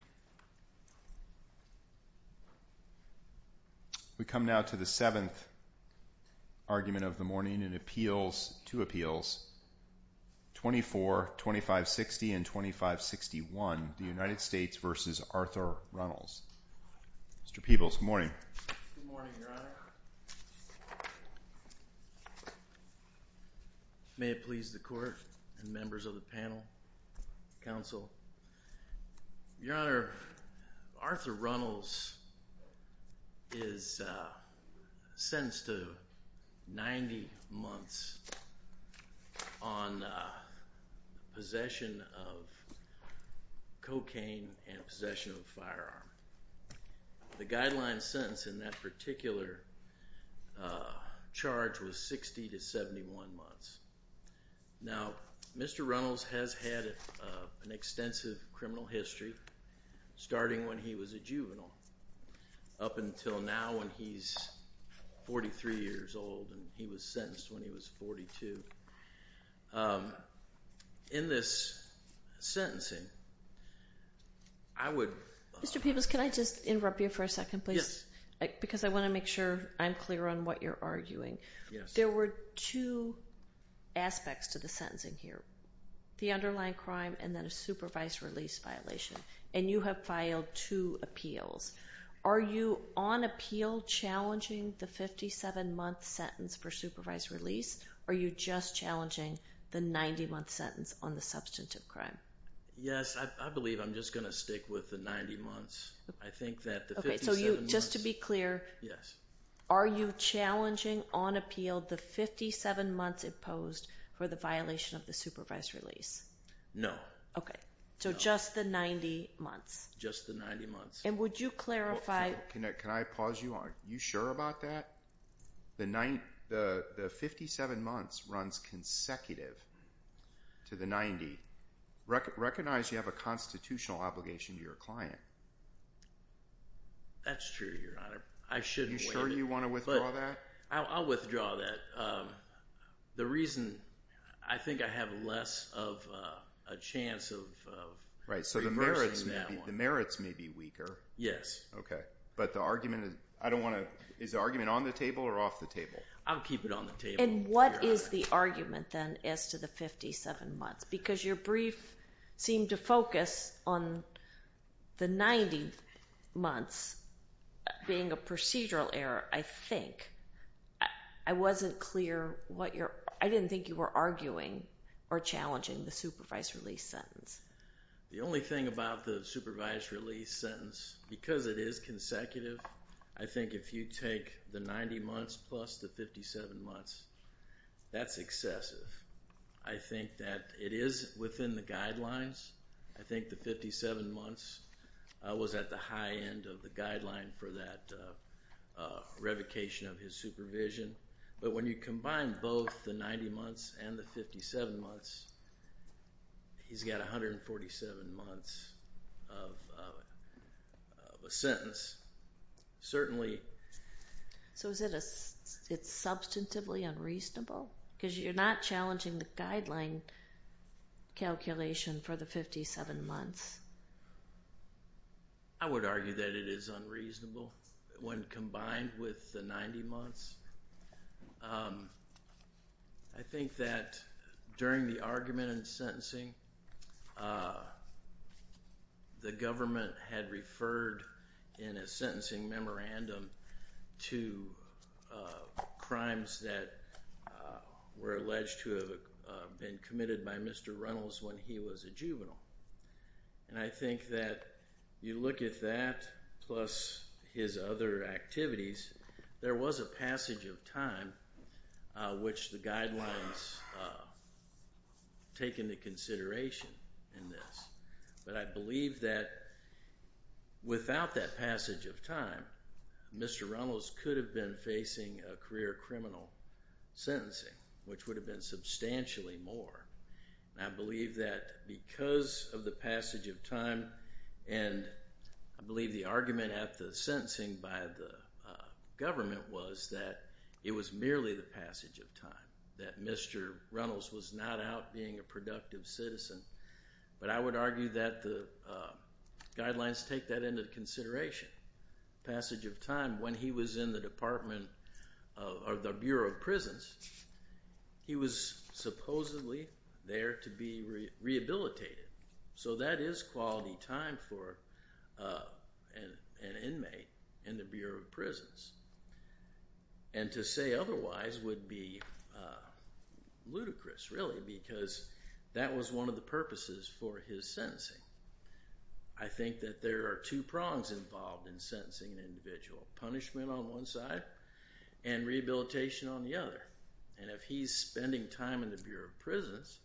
Mr. Peebles. Good morning. Good morning, Your Honor. May it please the Court and members of the panel, counsel. Your Honor, Arthur Runnels is sentenced to 90 months on possession of cocaine and possession of a firearm. The guideline sentence in that particular charge was 60 to 71 months. Now, Mr. Runnels has had an extensive criminal history, starting when he was a juvenile, up until now when he's 43 years old and he was sentenced when he was 42. In this sentencing, I would... Mr. Peebles, can I just interrupt you for a second, please? Yes. Because I want to make sure I'm clear on what you're arguing. Yes. There were two aspects to the sentencing here, the underlying crime and then a supervised release violation, and you have filed two appeals. Are you on appeal challenging the 57-month sentence for supervised release, or are you just challenging the 90-month sentence on the substantive crime? Yes, I believe I'm just going to stick with the 90 months. I appealed the 57 months imposed for the violation of the supervised release. No. Okay. So just the 90 months. Just the 90 months. And would you clarify... Can I pause you on... Are you sure about that? The 57 months runs consecutive to the 90. Recognize you have a constitutional obligation to your client. That's true, Your Honor. I shouldn't... Are you sure you want to withdraw that? I'll withdraw that. The reason... I think I have less of a chance of reversing that one. Right. So the merits may be weaker. Yes. Okay. But the argument... I don't want to... Is the argument on the table or off the table? I'll keep it on the table, Your Honor. And what is the argument, then, as to the 57 months? Because your brief seemed to focus on the 90 months being a procedural error, I think. I wasn't clear what you're... I didn't think you were arguing or challenging the supervised release sentence. The only thing about the supervised release sentence, because it is consecutive, I think if you take the 90 months plus the 57 months, that's excessive. I think that it is within the guidelines. I think the 57 months was at the high end of the guideline for that revocation of his supervision. But when you combine both the 90 months and the 57 months, he's got 147 months of a sentence. Certainly... So is it substantively unreasonable? Because you're not challenging the guideline calculation for the 57 months. I would argue that it is unreasonable when combined with the 90 months. I think that during the argument and sentencing, the government had referred in a sentencing memorandum to crimes that were alleged to have been committed by Mr. Runnels when he was a juvenile. And I think that you look at that plus his other activities, there was a passage of time which the guidelines take into consideration. But I believe that without that passage of time, Mr. Runnels could have been facing a career criminal sentencing, which would have been substantially more. I believe that because of the passage of time, and I believe the argument at the sentencing by the government was that it was merely the passage of time, that Mr. Runnels was not out being a productive citizen. But I would argue that the guidelines take that into consideration. Passage of time when he was in the Department of the Bureau of Prisons, he was supposedly there to be rehabilitated. So that is quality time for an inmate in the Bureau of Prisons. And to say otherwise would be ludicrous, really, because that was one of the purposes for his sentencing. I think that there are two prongs involved in sentencing an individual. Punishment on one side, and rehabilitation on the other. And if he's spending time in the Bureau of Prisons,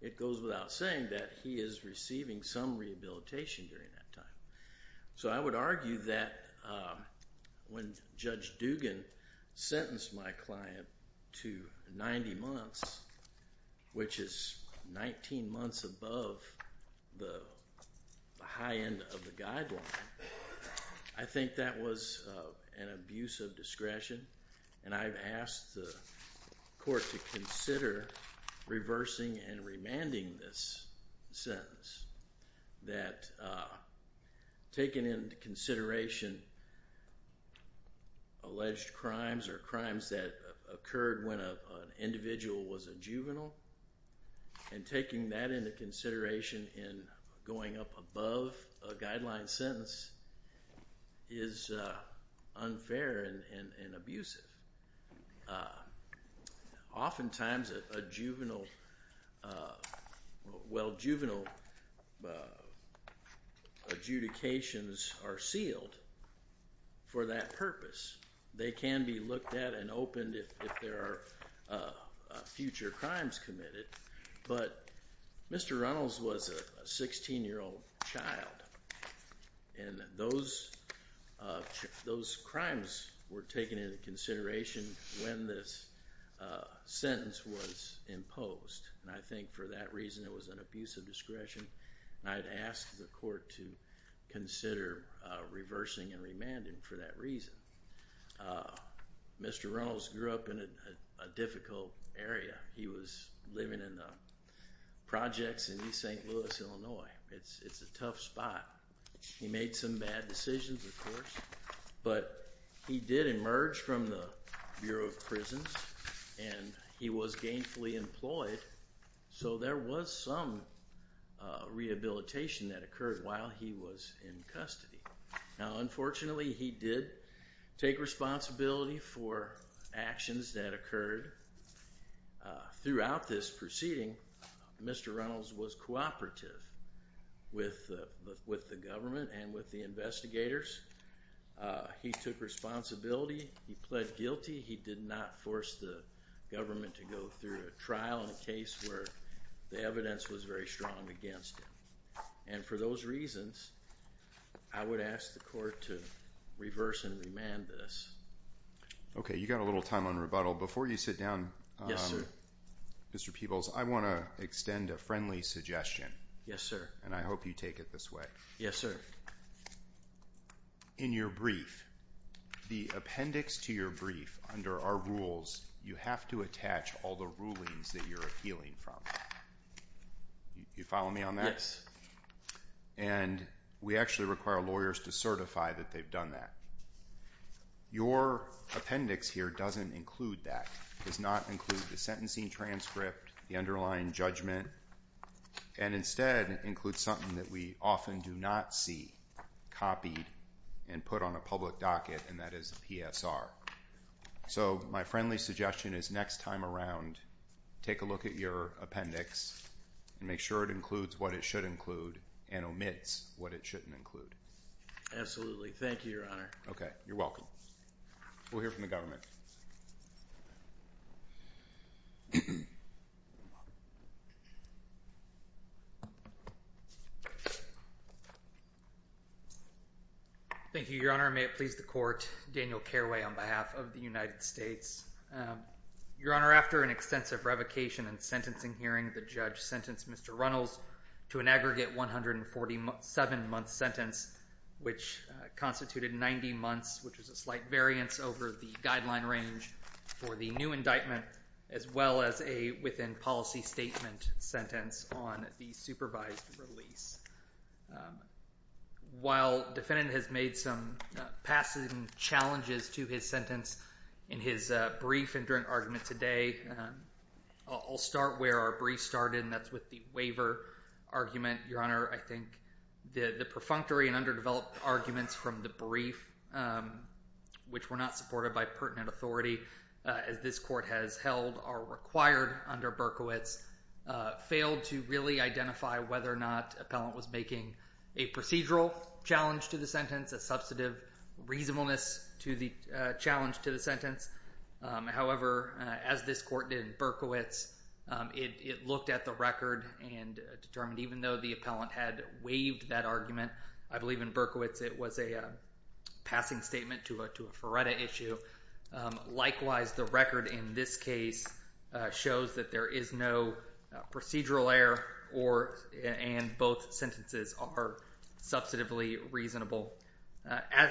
it goes without saying that he is receiving some rehabilitation during that time. So I would argue that when Judge Dugan sentenced my client to 90 months, which is 19 months above the high end of the guideline, I think that was an abuse of discretion, and I've asked the court to consider reversing and remanding this sentence. That taking into consideration alleged crimes or crimes that occurred when an individual was a juvenile, and taking that into consideration in going up above a guideline sentence, is unfair and abusive. Oftentimes a juvenile, well juvenile adjudications are sealed for that purpose. They can be looked at and opened if there are future crimes committed. But Mr. Reynolds was a 16-year-old child, and those crimes were taken into consideration when this sentence was imposed. And I think for that reason it was an abuse of discretion, and I'd ask the court to consider living in the projects in East St. Louis, Illinois. It's a tough spot. He made some bad decisions of course, but he did emerge from the Bureau of Prisons, and he was gainfully employed, so there was some rehabilitation that occurred while he was in custody. Now unfortunately he did take responsibility for actions that occurred throughout this proceeding. Mr. Reynolds was cooperative with the government and with the investigators. He took responsibility, he pled guilty, he did not force the government to go through a trial in a case where the evidence was very strong against him. And for those reasons, I would ask the court to reverse and remand this. Okay, you've got a little time on rebuttal. Before you sit down, Mr. Peebles, I want to extend a friendly suggestion, and I hope you take it this way. In your brief, the appendix to your brief under our rules, you have to attach all the rulings that you're appealing from. You follow me on that? And we actually require lawyers to certify that they've done that. Your appendix here doesn't include that. It does not include the sentencing transcript, the underlying judgment, and instead it includes something that we often do not see copied and put on a public docket, and that is a PSR. So my friendly suggestion is next time around, take a look at your appendix and make sure it includes what it should include and omits what it shouldn't include. Absolutely. Thank you, Your Honor. Okay, you're welcome. We'll hear from the government. Thank you, Your Honor. May it please the court, Daniel Careway on behalf of the United States. Your Honor, after an extensive revocation and sentencing hearing, the judge sentenced Mr. Runnels to an aggregate 147-month sentence, which constituted 90 months, which is a slight variance over the guideline range for the new indictment, as well as a within-policy statement sentence on the supervised release. While defendant has made some passing challenges to his sentence in his brief and during argument today, I'll start where our brief started, and that's with the waiver argument. Your Honor, I think the perfunctory and underdeveloped arguments from the brief, which were not supported by pertinent authority, as this court has held are required under Berkowitz, failed to really identify whether or not appellant was making a procedural challenge to the sentence, a substantive reasonableness to the challenge to the sentence. However, as this court did in Berkowitz, it looked at the record and determined, even though the appellant had waived that argument, I believe in Berkowitz it was a passing statement to a FRERETA issue. Likewise, the record in this case shows that there is no procedural error, and both sentences are substantively reasonable.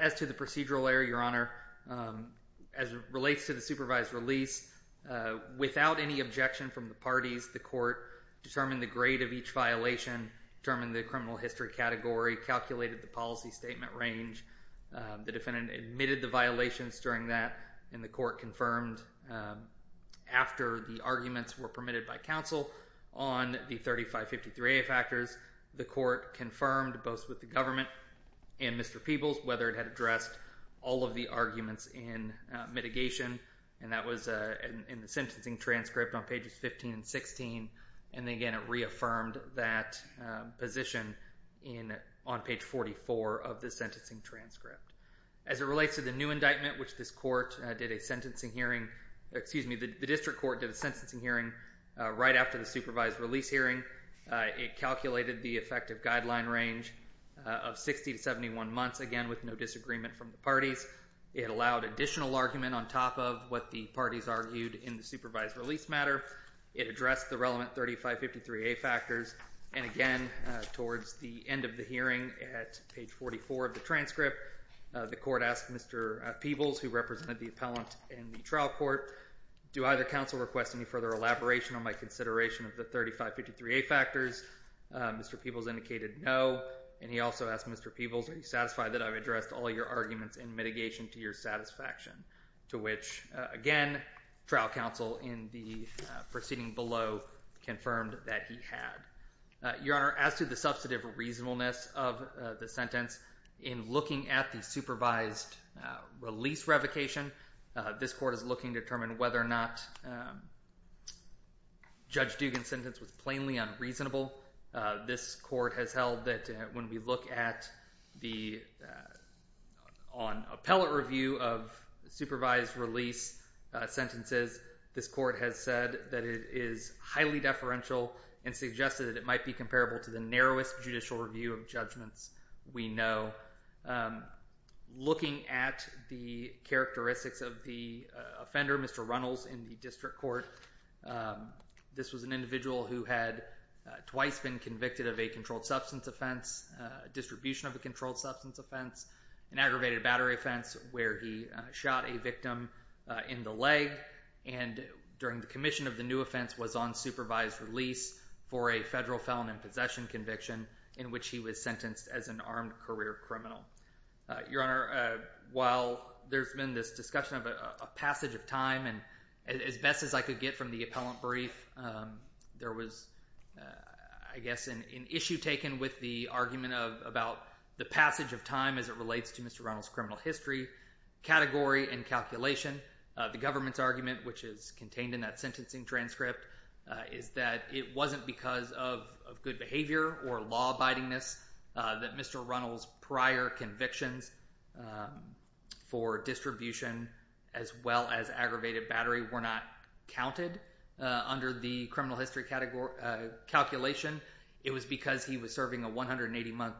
As to the procedural error, Your Honor, as it relates to the supervised release, without any objection from the parties, the court determined the grade of each violation, determined the criminal history category, calculated the policy statement range, the defendant admitted the violations during that, and the court confirmed after the arguments were permitted by counsel on the 3553A factors, the court confirmed both with the government and Mr. Peebles whether it had addressed all of the arguments in mitigation, and that was in the sentencing transcript on pages 15 and 16, and again it reaffirmed that position on page 44 of the sentencing transcript. As it relates to the new indictment, which this court did a sentencing hearing, excuse me, the district court did a sentencing hearing right after the supervised release hearing, it calculated the effective guideline range of 60 to 71 months, again with no disagreement from the parties, it allowed additional argument on top of what the parties argued in the supervised release matter, it addressed the relevant 3553A factors, and again, towards the end of the hearing at page 44 of the transcript, the court asked Mr. Peebles, who represented the appellant in the trial court, do either counsel request any further elaboration on my consideration of the 3553A factors? Mr. Peebles indicated no, and he also asked Mr. Peebles, are you satisfied that I've addressed all your arguments in mitigation to your satisfaction? To which, again, trial counsel in the proceeding below confirmed that he had. Your Honor, as to the substantive reasonableness of the sentence, in looking at the supervised release revocation, this court is looking to determine whether or not Judge Dugan's sentence was plainly unreasonable. This court has held that when we look at the, on appellate review of supervised release sentences, this court has said that it is highly deferential and suggested that it might be comparable to the narrowest judicial review of judgments we know. Looking at the characteristics of the offender, Mr. Runnels, in the district distribution of a controlled substance offense, an aggravated battery offense where he shot a victim in the leg, and during the commission of the new offense was on supervised release for a federal felon in possession conviction in which he was sentenced as an armed career criminal. Your Honor, while there's been this discussion of a passage of time, and as best as I could get from the appellant brief, there was, I guess, an issue taken with the argument about the passage of time as it relates to Mr. Runnels' criminal history, category, and calculation. The government's argument, which is contained in that sentencing transcript, is that it wasn't because of good behavior or law-abidingness that Mr. Runnels' prior convictions for distribution as well as aggravated battery were not counted under the criminal history calculation. It was because he was serving a 180-month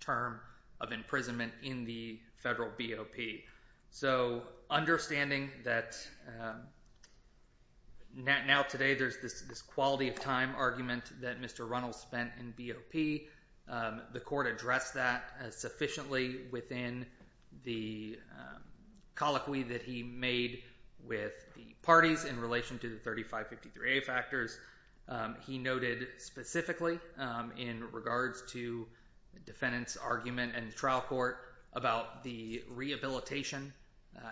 term of imprisonment in the federal BOP. So, understanding that now today there's this quality of time argument that Mr. Runnels spent in BOP, the court addressed that sufficiently within the colloquy that he made with the parties in relation to the 3553A factors. He noted specifically in regards to defendant's argument in the trial court about the rehabilitation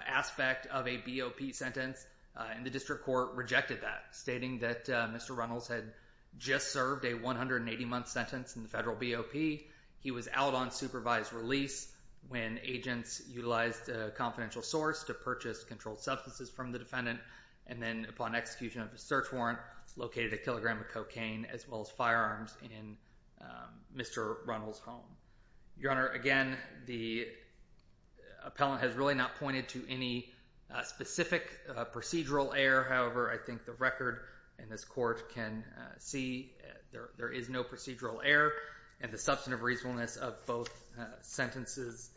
aspect of a BOP sentence, and the district court rejected that, stating that Mr. Runnels had just served a 180-month sentence in the federal BOP. He was out on supervised release when agents utilized a confidential source to purchase Your Honor, again, the appellant has really not pointed to any specific procedural error. However, I think the record in this court can see there is no procedural error, and the substantive reasonableness of both sentences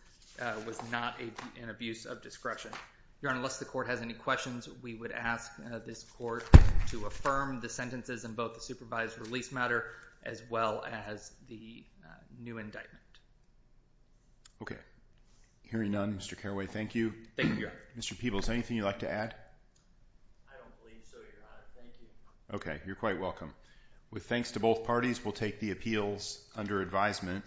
was not an abuse of discretion. Your Honor, unless the court has any questions, we would ask this court to affirm the sentences in both the supervised release matter, as well as the new indictment. Okay. Hearing none, Mr. Carraway, thank you. Thank you, Your Honor. Mr. Peebles, anything you'd like to add? I don't believe so, Your Honor. Thank you. Okay. You're quite welcome. With thanks to both parties, we'll take the appeals under advisement.